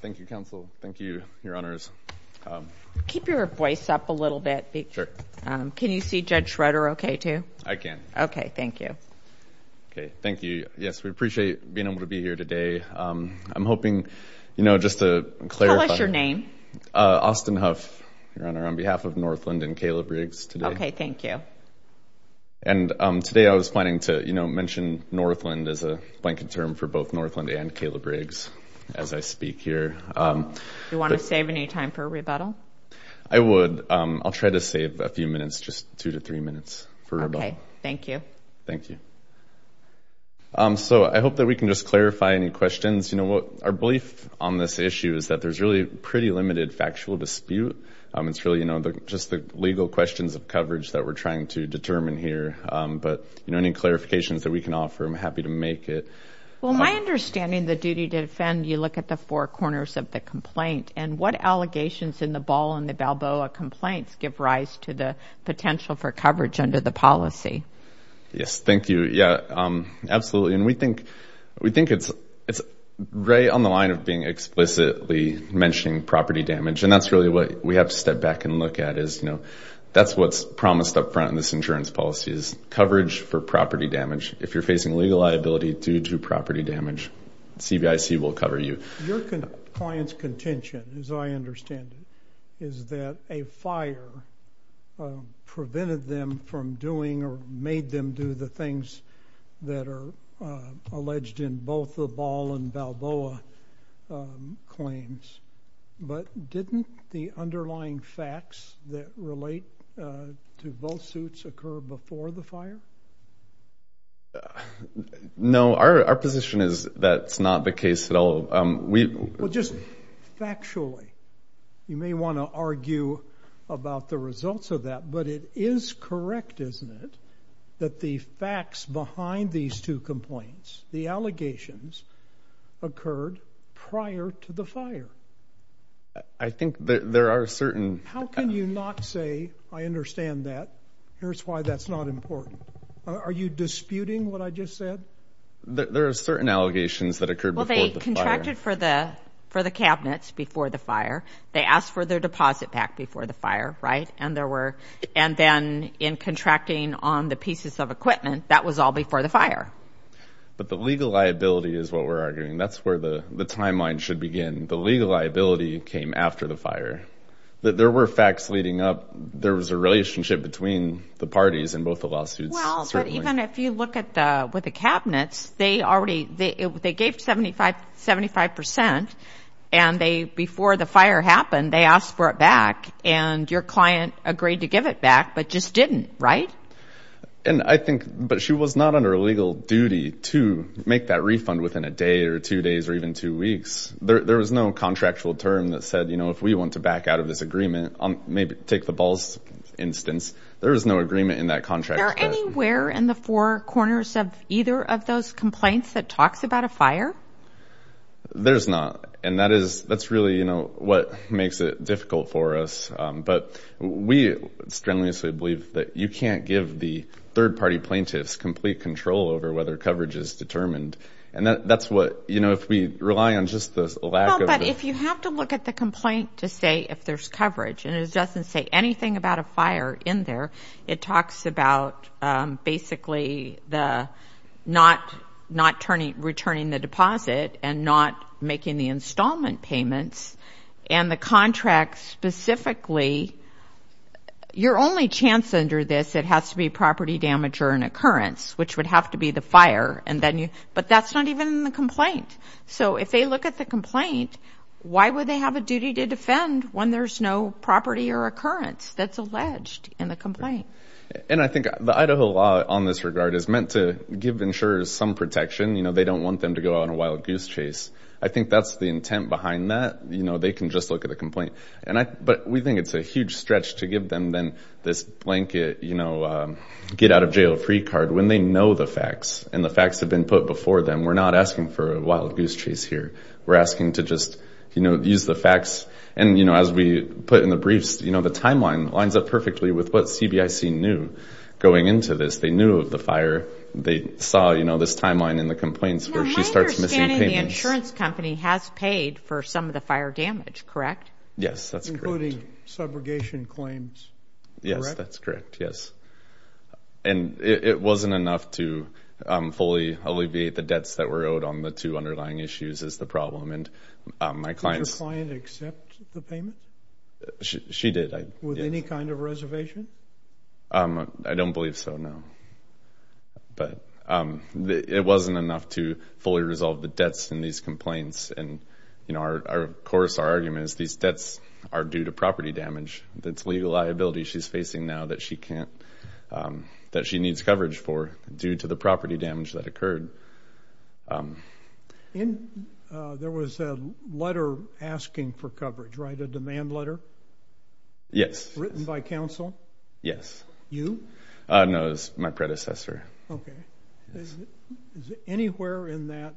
Thank you counsel, thank you your honors. Keep your voice up a little bit, can you see Judge Schroeder okay too? I can. Okay, thank you. Okay, thank you. Yes, we appreciate being able to be here today. I'm hoping, you know, just to clarify. Tell us your name. Austin Huff, your honor, on behalf of Northland and Caleb Riggs today. Okay, thank you. And today I was planning to, you know, mention Northland as a blanket term for both Northland and Caleb Riggs as I speak here. Do you want to save any time for rebuttal? I would. I'll try to save a few minutes, just two to three minutes for rebuttal. Okay, thank you. Thank you. So I hope that we can just clarify any questions. You know what, our belief on this issue is that there's really pretty limited factual dispute. It's really, you know, just the legal questions of coverage that we're trying to determine here. But, you know, any clarifications that we can offer, I'm happy to make it. Well, my understanding of the duty to defend, you look at the four corners of the complaint. And what allegations in the Ball and the Balboa complaints give rise to the potential for coverage under the policy? Yes, thank you. Yeah, absolutely. And we think it's right on the line of being explicitly mentioning property damage. And that's really what we have to step back and look at is, you know, that's what's promised up front in this insurance policy is coverage for property damage. If you're facing legal liability due to property damage, CVIC will cover you. Your client's contention, as I understand it, is that a fire prevented them from doing or made them do the things that are alleged in both the Ball and Balboa claims. But didn't the underlying facts that relate to both suits occur before the fire? No, our position is that's not the case at all. Well, just factually, you may want to argue about the results of that, but it is correct, isn't it, that the facts behind these two complaints, the allegations, occurred prior to the fire? I think there are certain... How can you not say, I understand that, here's why that's not important? Are you disputing what I just said? There are certain allegations that occurred before the fire. They contracted for the cabinets before the fire. They asked for their deposit back before the fire, right? And then in contracting on the pieces of equipment, that was all before the fire. But the legal liability is what we're arguing. That's where the timeline should begin. The legal liability came after the fire. There were facts leading up. There was a relationship between the parties in both the lawsuits. Well, but even if you look with the cabinets, they gave 75%, and before the fire happened, they asked for it back. And your client agreed to give it back, but just didn't, right? And I think, but she was not under legal duty to make that refund within a day or two days or even two weeks. There was no contractual term that said, you know, if we want to back out of this agreement, maybe take the balls instance, there was no agreement in that contract. Is there anywhere in the four corners of either of those complaints that talks about a fire? There's not. And that is, that's really, you know, what makes it difficult for us. But we strenuously believe that you can't give the third-party plaintiffs complete control over whether coverage is determined. And that's what, you know, if we rely on just the lack of the. If you have to look at the complaint to say if there's coverage, and it doesn't say anything about a fire in there, it talks about basically the not returning the deposit and not making the installment payments, and the contract specifically, your only chance under this, it has to be property damage or an occurrence, which would have to be the fire, but that's not even in the complaint. So if they look at the complaint, why would they have a duty to defend when there's no property or occurrence that's alleged in the complaint? And I think the Idaho law on this regard is meant to give insurers some protection. You know, they don't want them to go on a wild goose chase. I think that's the intent behind that. You know, they can just look at the complaint. But we think it's a huge stretch to give them then this blanket, you know, get out of jail free card, when they know the facts, and the facts have been put before them. We're not asking for a wild goose chase here. We're asking to just, you know, use the facts. And, you know, as we put in the briefs, you know, the timeline lines up perfectly with what CBIC knew going into this. They knew of the fire. They saw, you know, this timeline in the complaints where she starts missing payments. Now, my understanding, the insurance company has paid for some of the fire damage, correct? Yes, that's correct. Including subrogation claims, correct? Yes, that's correct, yes. And it wasn't enough to fully alleviate the debts that were owed on the two underlying issues is the problem. Did your client accept the payment? She did. With any kind of reservation? I don't believe so, no. But it wasn't enough to fully resolve the debts in these complaints. And, you know, of course our argument is these debts are due to property damage. That's a legal liability she's facing now that she needs coverage for due to the property damage that occurred. There was a letter asking for coverage, right, a demand letter? Yes. Written by counsel? Yes. You? No, it was my predecessor. Okay. Is it anywhere in that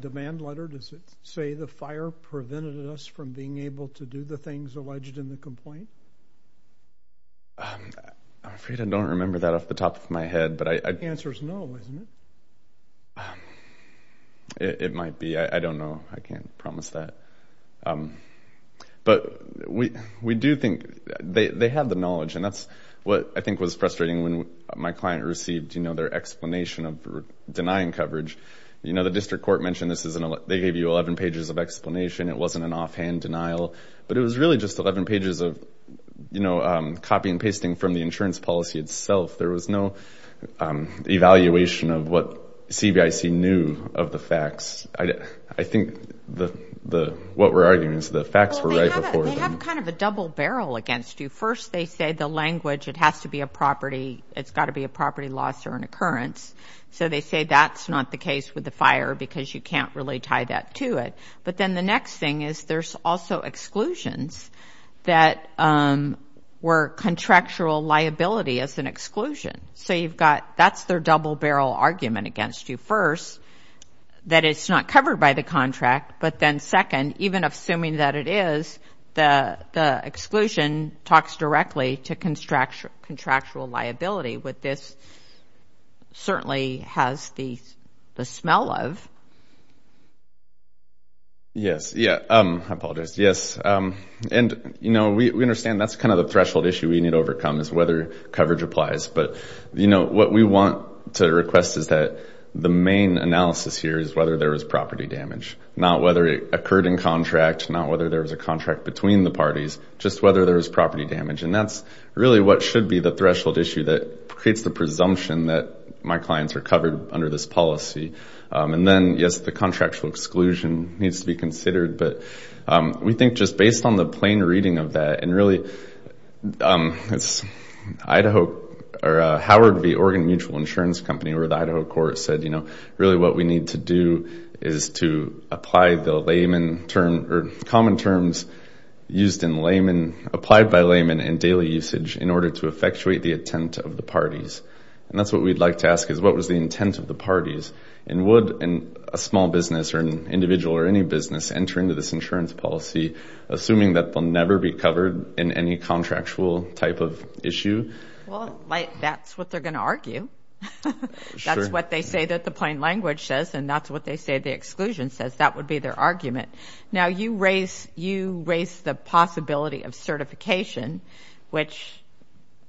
demand letter does it say the fire prevented us from being able to do the things alleged in the complaint? I'm afraid I don't remember that off the top of my head. The answer is no, isn't it? It might be. I don't know. I can't promise that. But we do think they have the knowledge, and that's what I think was frustrating when my client received, you know, their explanation of denying coverage. You know, the district court mentioned they gave you 11 pages of explanation. It wasn't an offhand denial. But it was really just 11 pages of, you know, copy and pasting from the insurance policy itself. There was no evaluation of what CVIC knew of the facts. I think what we're arguing is the facts were right before them. Well, they have kind of a double barrel against you. First, they say the language, it has to be a property, it's got to be a property loss or an occurrence. So they say that's not the case with the fire because you can't really tie that to it. But then the next thing is there's also exclusions that were contractual liability as an exclusion. So you've got that's their double barrel argument against you. First, that it's not covered by the contract. But then second, even assuming that it is, the exclusion talks directly to contractual liability. But this certainly has the smell of. Yes. I apologize. Yes. And, you know, we understand that's kind of the threshold issue we need to overcome is whether coverage applies. But, you know, what we want to request is that the main analysis here is whether there was property damage, not whether it occurred in contract, not whether there was a contract between the parties, just whether there was property damage. And that's really what should be the threshold issue that creates the presumption that my clients are covered under this policy. And then, yes, the contractual exclusion needs to be considered. But we think just based on the plain reading of that, and really Howard v. Oregon Mutual Insurance Company or the Idaho court said, you know, really what we need to do is to apply the layman term or common terms used in layman, applied by layman in daily usage in order to effectuate the intent of the parties. And that's what we'd like to ask is what was the intent of the parties. And would a small business or an individual or any business enter into this insurance policy, assuming that they'll never be covered in any contractual type of issue? Well, that's what they're going to argue. That's what they say that the plain language says, and that's what they say the exclusion says. That would be their argument. Now, you raise the possibility of certification, which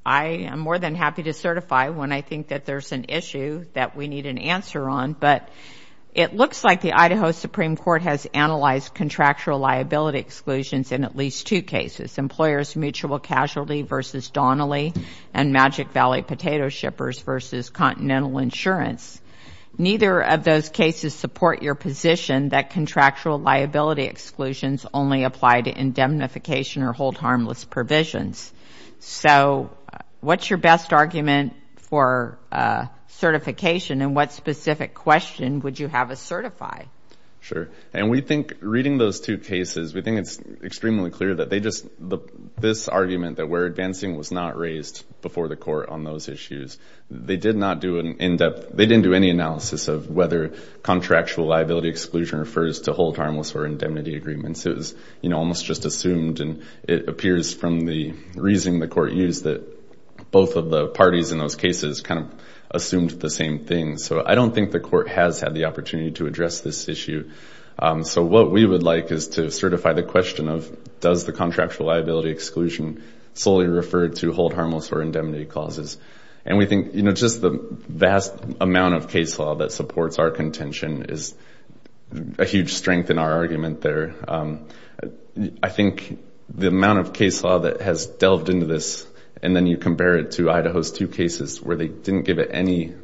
I am more than happy to certify when I think that there's an issue that we need an answer on. But it looks like the Idaho Supreme Court has analyzed contractual liability exclusions in at least two cases, employers' mutual casualty versus Donnelly and Magic Valley Potato Shippers versus Continental Insurance. Neither of those cases support your position that contractual liability exclusions only apply to indemnification or hold harmless provisions. So what's your best argument for certification? And what specific question would you have us certify? Sure. And we think reading those two cases, we think it's extremely clear that they just, this argument that we're advancing was not raised before the court on those issues. They did not do an in-depth, they didn't do any analysis of whether contractual liability exclusion refers to hold harmless or indemnity agreements. It was almost just assumed, and it appears from the reasoning the court used that both of the parties in those cases kind of assumed the same thing. So I don't think the court has had the opportunity to address this issue. So what we would like is to certify the question of, does the contractual liability exclusion solely refer to hold harmless or indemnity clauses? And we think just the vast amount of case law that supports our contention is a huge strength in our argument there. I think the amount of case law that has delved into this, and then you compare it to Idaho's two cases where they didn't give it any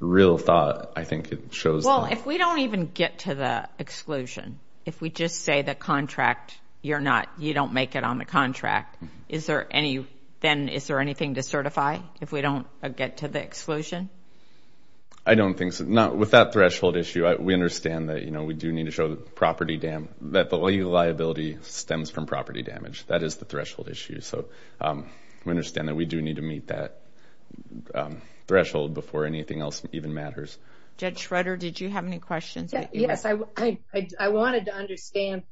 real thought, I think it shows. Well, if we don't even get to the exclusion, if we just say the contract, you're not, you don't make it on the contract, is there any, then is there anything to certify if we don't get to the exclusion? I don't think so. With that threshold issue, we understand that we do need to show that the liability stems from property damage. That is the threshold issue. So we understand that we do need to meet that threshold before anything else even matters. Judge Schroeder, did you have any questions? Yes. I wanted to understand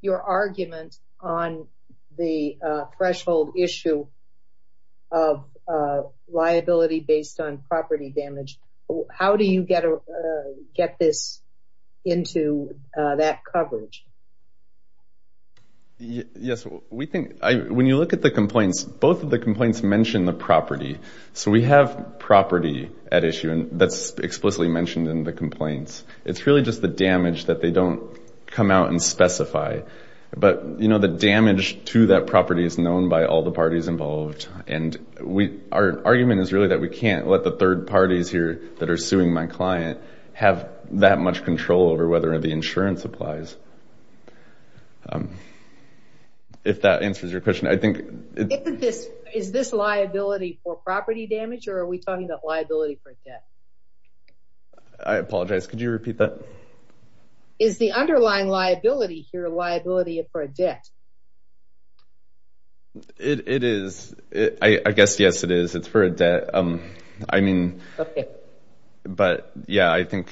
your argument on the threshold issue of liability based on property damage. How do you get this into that coverage? Yes, we think, when you look at the complaints, both of the complaints mention the property. So we have property at issue that's explicitly mentioned in the complaints. It's really just the damage that they don't come out and specify. But, you know, the damage to that property is known by all the parties involved. Our argument is really that we can't let the third parties here that are suing my client have that much control over whether the insurance applies. If that answers your question. Is this liability for property damage or are we talking about liability for debt? I apologize, could you repeat that? Is the underlying liability here liability for debt? It is. I guess, yes, it is. It's for a debt. I mean, but, yeah, I think,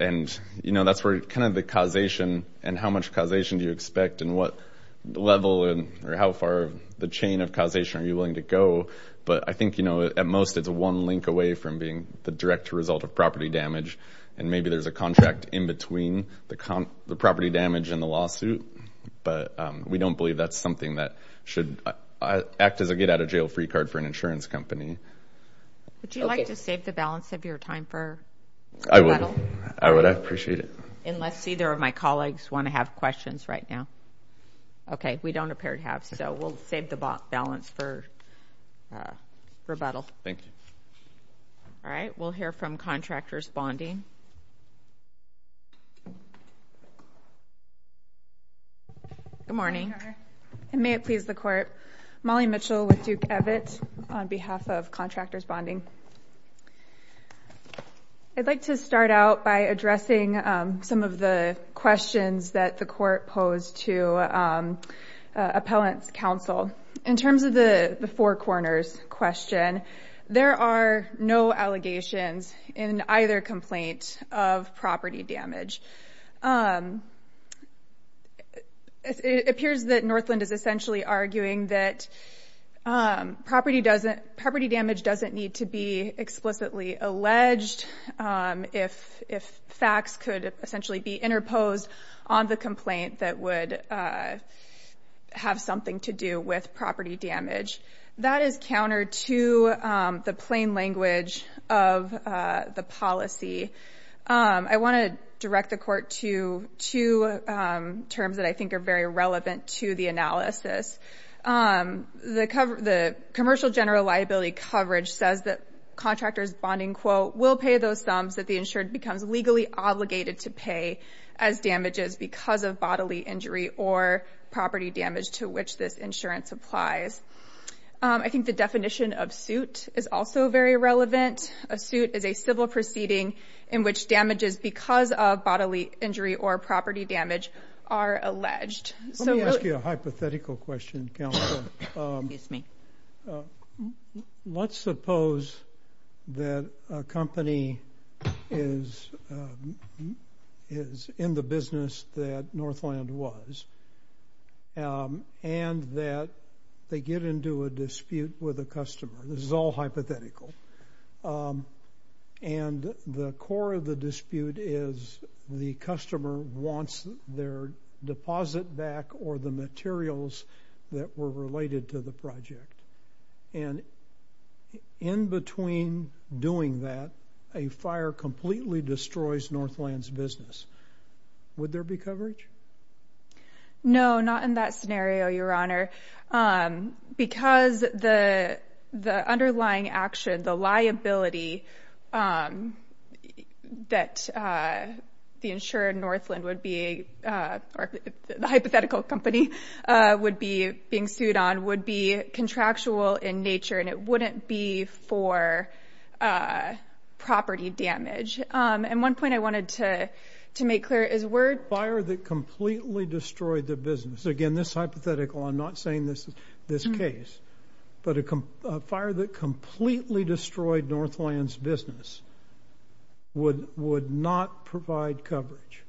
and, you know, that's where kind of the causation and how much causation do you expect and what level or how far the chain of causation are you willing to go. But I think, you know, at most it's one link away from being the direct result of property damage. And maybe there's a contract in between the property damage and the lawsuit. But we don't believe that's something that should act as a get-out-of-jail-free card for an insurance company. Would you like to save the balance of your time for rebuttal? I would. I would. I appreciate it. Unless either of my colleagues want to have questions right now. Okay. We don't appear to have, so we'll save the balance for rebuttal. Thank you. All right. We'll hear from Contractors Bonding. Good morning. And may it please the Court. Molly Mitchell with Duke Evitt on behalf of Contractors Bonding. I'd like to start out by addressing some of the questions that the Court posed to Appellant's Counsel. In terms of the Four Corners question, there are no allegations in either complaint of property damage. It appears that Northland is essentially arguing that property damage doesn't need to be explicitly alleged if facts could essentially be interposed on the complaint that would have something to do with property damage. That is counter to the plain language of the policy. I want to direct the Court to two terms that I think are very relevant to the analysis. The Commercial General Liability Coverage says that Contractors Bonding, quote, will pay those sums that the insured becomes legally obligated to pay as damages because of bodily injury or property damage to which this insurance applies. I think the definition of suit is also very relevant. A suit is a civil proceeding in which damages because of bodily injury or property damage are alleged. Let me ask you a hypothetical question, Counselor. Let's suppose that a company is in the business that Northland was and that they get into a dispute with a customer. This is all hypothetical. The core of the dispute is the customer wants their deposit back or the materials that were related to the project. In between doing that, a fire completely destroys Northland's business. Would there be coverage? No, not in that scenario, Your Honor. Because the underlying action, the liability that the insured Northland would be, or the hypothetical company would be being sued on, would be contractual in nature, and it wouldn't be for property damage. And one point I wanted to make clear is where… Fire that completely destroyed the business. Again, this hypothetical, I'm not saying this is this case, but a fire that completely destroyed Northland's business would not provide coverage.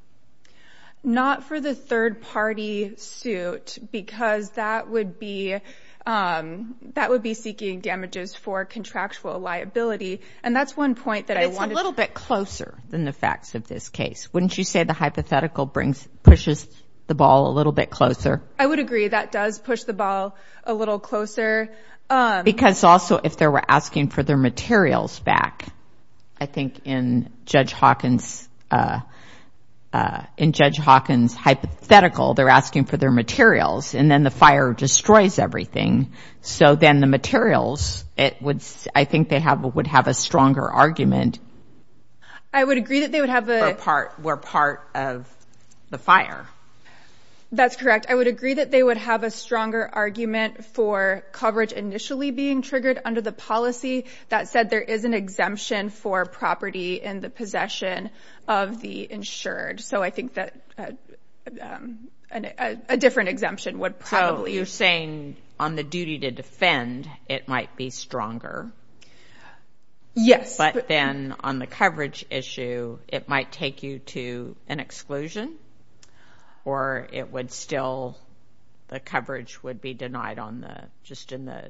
Not for the third-party suit because that would be seeking damages for contractual liability, and that's one point that I wanted to… But it's a little bit closer than the facts of this case. Wouldn't you say the hypothetical pushes the ball a little bit closer? I would agree. That does push the ball a little closer. Because also if they were asking for their materials back, I think in Judge Hawkins' hypothetical, they're asking for their materials, and then the fire destroys everything. So then the materials, I think they would have a stronger argument. I would agree that they would have a… We're part of the fire. That's correct. I would agree that they would have a stronger argument for coverage initially being triggered under the policy that said there is an exemption for property in the possession of the insured. So I think that a different exemption would probably… So you're saying on the duty to defend, it might be stronger. Yes. But then on the coverage issue, it might take you to an exclusion, or it would still…the coverage would be denied just in the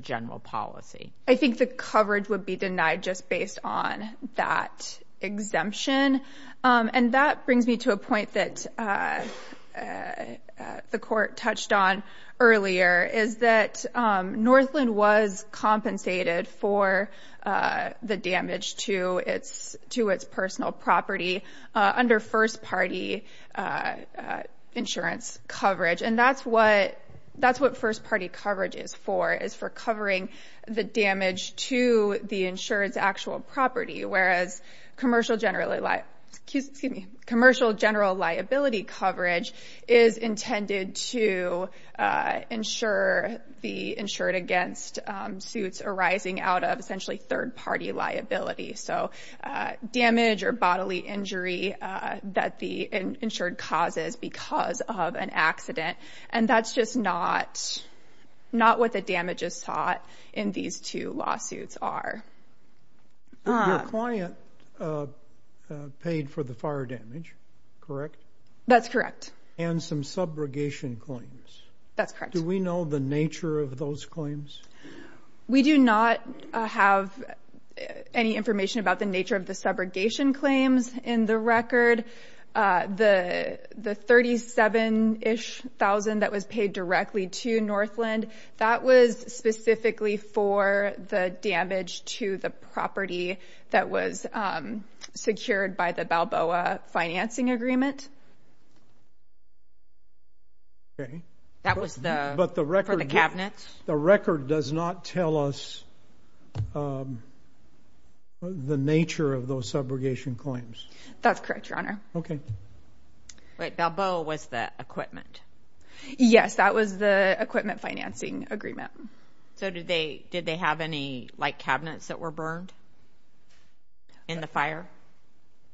general policy. I think the coverage would be denied just based on that exemption. And that brings me to a point that the court touched on earlier, is that Northland was compensated for the damage to its personal property under first-party insurance coverage. And that's what first-party coverage is for, is for covering the damage to the insured's actual property, whereas commercial general liability coverage is intended to insure the insured against suits arising out of essentially third-party liability. So damage or bodily injury that the insured causes because of an accident. And that's just not what the damages sought in these two lawsuits are. Your client paid for the fire damage, correct? That's correct. And some subrogation claims. That's correct. Do we know the nature of those claims? We do not have any information about the nature of the subrogation claims in the record. The $37,000-ish that was paid directly to Northland, that was specifically for the damage to the property that was secured by the Balboa financing agreement. That was for the cabinets? The record does not tell us the nature of those subrogation claims. That's correct, Your Honor. Okay. Wait, Balboa was the equipment? Yes, that was the equipment financing agreement. So did they have any, like, cabinets that were burned in the fire?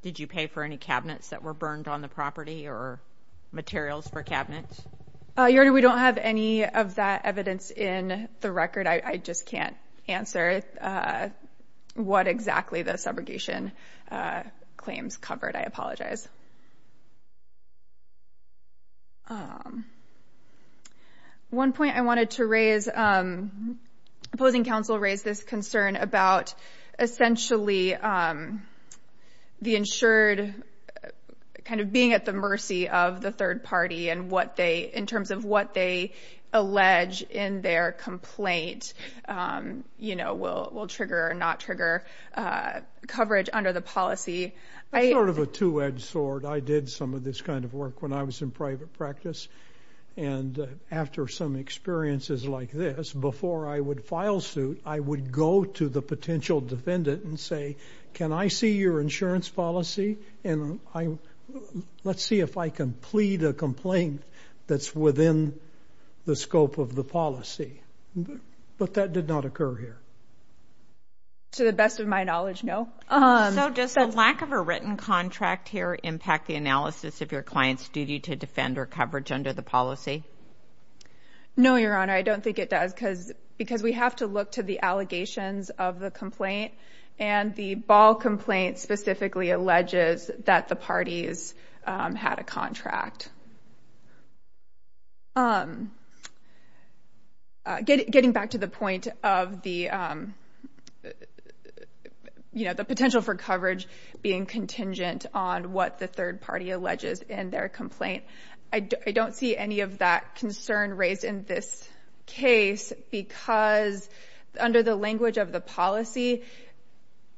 Did you pay for any cabinets that were burned on the property or materials for cabinets? Your Honor, we don't have any of that evidence in the record. I just can't answer what exactly the subrogation claims covered. I apologize. One point I wanted to raise, opposing counsel raised this concern about essentially the insured kind of being at the mercy of the third party in terms of what they allege in their complaint, you know, will trigger or not trigger coverage under the policy. I'm sort of a two-edged sword. I did some of this kind of work when I was in private practice. And after some experiences like this, before I would file suit, I would go to the potential defendant and say, can I see your insurance policy? And let's see if I can plead a complaint that's within the scope of the policy. But that did not occur here. To the best of my knowledge, no. So does the lack of a written contract here impact the analysis of your client's duty to defend or coverage under the policy? No, Your Honor. I don't think it does because we have to look to the allegations of the complaint. And the Ball complaint specifically alleges that the parties had a contract. Getting back to the point of the potential for coverage being contingent on what the third party alleges in their complaint, I don't see any of that concern raised in this case because under the language of the policy,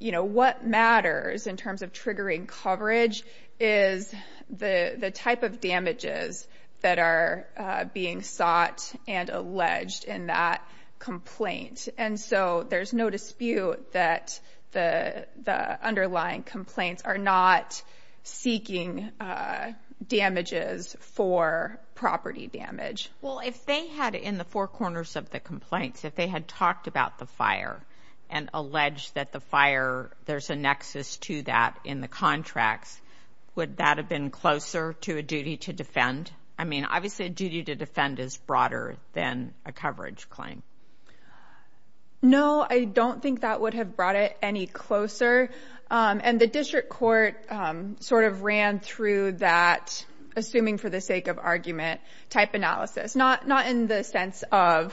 what matters in terms of triggering coverage is the type of damages that are being sought and alleged in that complaint. And so there's no dispute that the underlying complaints are not seeking damages for property damage. Well, if they had in the four corners of the complaints, if they had talked about the fire and alleged that the fire, there's a nexus to that in the contracts, would that have been closer to a duty to defend? I mean, obviously, a duty to defend is broader than a coverage claim. No, I don't think that would have brought it any closer. And the district court sort of ran through that assuming for the sake of argument type analysis. Not in the sense of,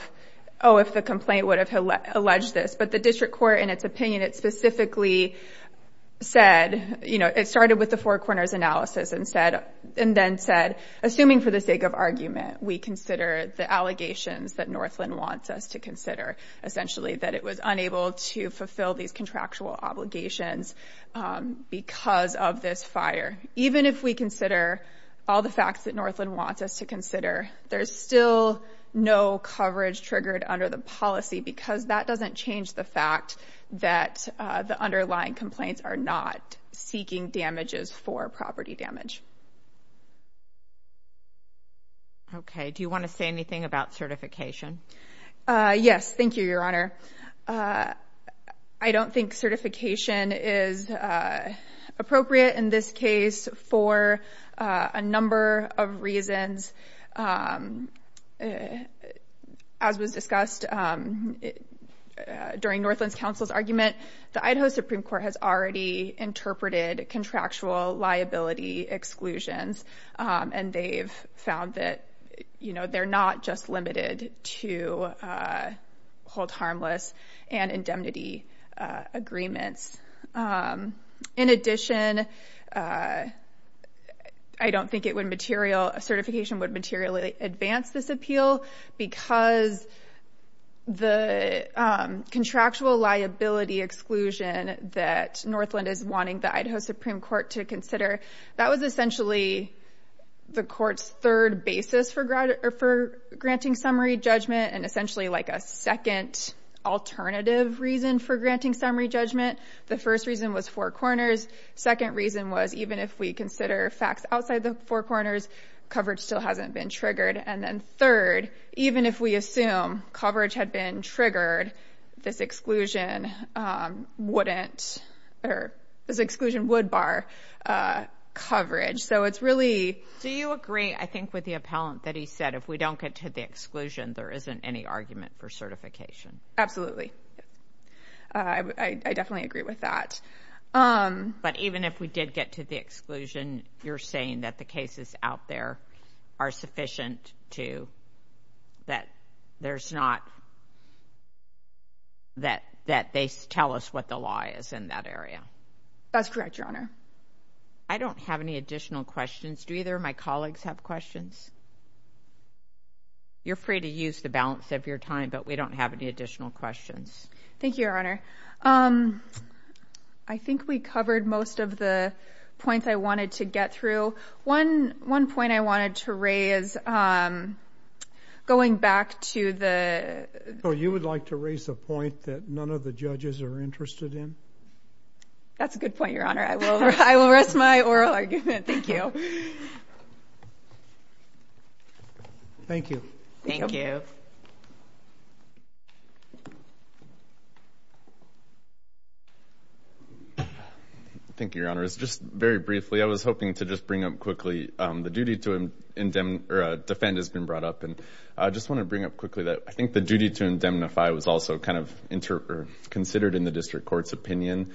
oh, if the complaint would have alleged this, but the district court, in its opinion, it specifically said, you know, it started with the four corners analysis and then said, assuming for the sake of argument, we consider the allegations that Northland wants us to consider. Essentially that it was unable to fulfill these contractual obligations because of this fire. Even if we consider all the facts that Northland wants us to consider, there is still no coverage triggered under the policy because that doesn't change the fact that the underlying complaints are not seeking damages for property damage. OK, do you want to say anything about certification? Yes. Thank you, Your Honor. I don't think certification is appropriate in this case for a number of reasons. As was discussed during Northland's counsel's argument, the Idaho Supreme Court has already interpreted contractual liability exclusions, and they've found that, you know, they're not just limited to hold harmless and indemnity agreements. In addition, I don't think certification would materially advance this appeal because the contractual liability exclusion that Northland is wanting the Idaho Supreme Court to consider, that was essentially the court's third basis for granting summary judgment and essentially like a second alternative reason for granting summary judgment. The first reason was four corners. Second reason was even if we consider facts outside the four corners, coverage still hasn't been triggered. And then third, even if we assume coverage had been triggered, this exclusion wouldn't or this exclusion would bar coverage. So it's really... Do you agree, I think, with the appellant that he said if we don't get to the exclusion, there isn't any argument for certification? Absolutely. I definitely agree with that. But even if we did get to the exclusion, you're saying that the cases out there are sufficient to... that there's not... that they tell us what the law is in that area? That's correct, Your Honor. I don't have any additional questions. Do either of my colleagues have questions? You're free to use the balance of your time, but we don't have any additional questions. Thank you, Your Honor. I think we covered most of the points I wanted to get through. One point I wanted to raise, going back to the... So you would like to raise a point that none of the judges are interested in? That's a good point, Your Honor. I will rest my oral argument. Thank you. Thank you. Thank you. Thank you, Your Honor. Just very briefly, I was hoping to just bring up quickly... The duty to defend has been brought up, and I just want to bring up quickly that I think the duty to indemnify was also kind of considered in the district court's opinion.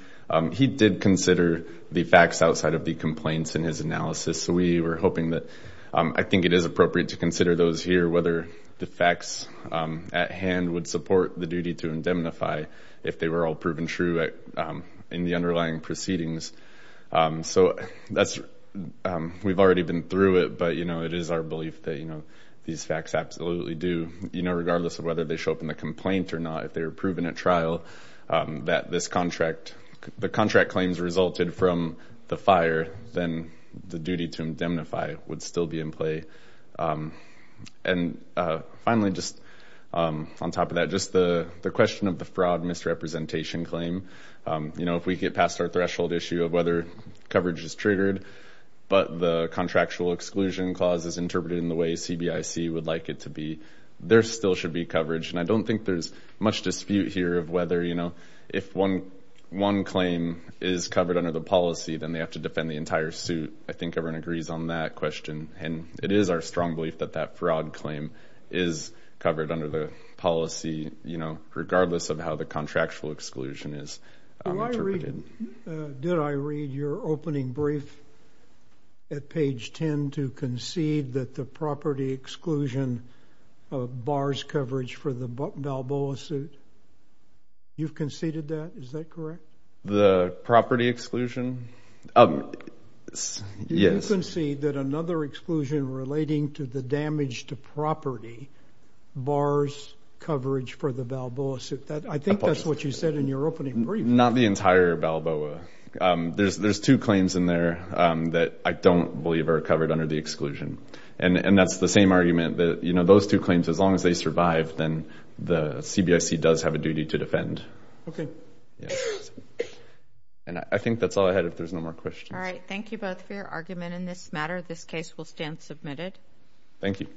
He did consider the facts outside of the complaints in his analysis, so we were hoping that... Whether the facts at hand would support the duty to indemnify if they were all proven true in the underlying proceedings. We've already been through it, but it is our belief that these facts absolutely do. Regardless of whether they show up in the complaint or not, if they were proven at trial that the contract claims resulted from the fire, then the duty to indemnify would still be in play. And finally, just on top of that, just the question of the fraud misrepresentation claim. You know, if we get past our threshold issue of whether coverage is triggered, but the contractual exclusion clause is interpreted in the way CBIC would like it to be, there still should be coverage, and I don't think there's much dispute here of whether, you know, if one claim is covered under the policy, then they have to defend the entire suit. I think everyone agrees on that question, and it is our strong belief that that fraud claim is covered under the policy, you know, regardless of how the contractual exclusion is interpreted. Did I read your opening brief at page 10 to concede that the property exclusion bars coverage for the Balboa suit? You've conceded that? Is that correct? The property exclusion? Yes. Did you concede that another exclusion relating to the damage to property bars coverage for the Balboa suit? I think that's what you said in your opening brief. Not the entire Balboa. There's two claims in there that I don't believe are covered under the exclusion, and that's the same argument that, you know, those two claims, as long as they survive, then the CBIC does have a duty to defend. Okay. And I think that's all I had, if there's no more questions. All right. Thank you both for your argument in this matter. This case will stand submitted. Thank you.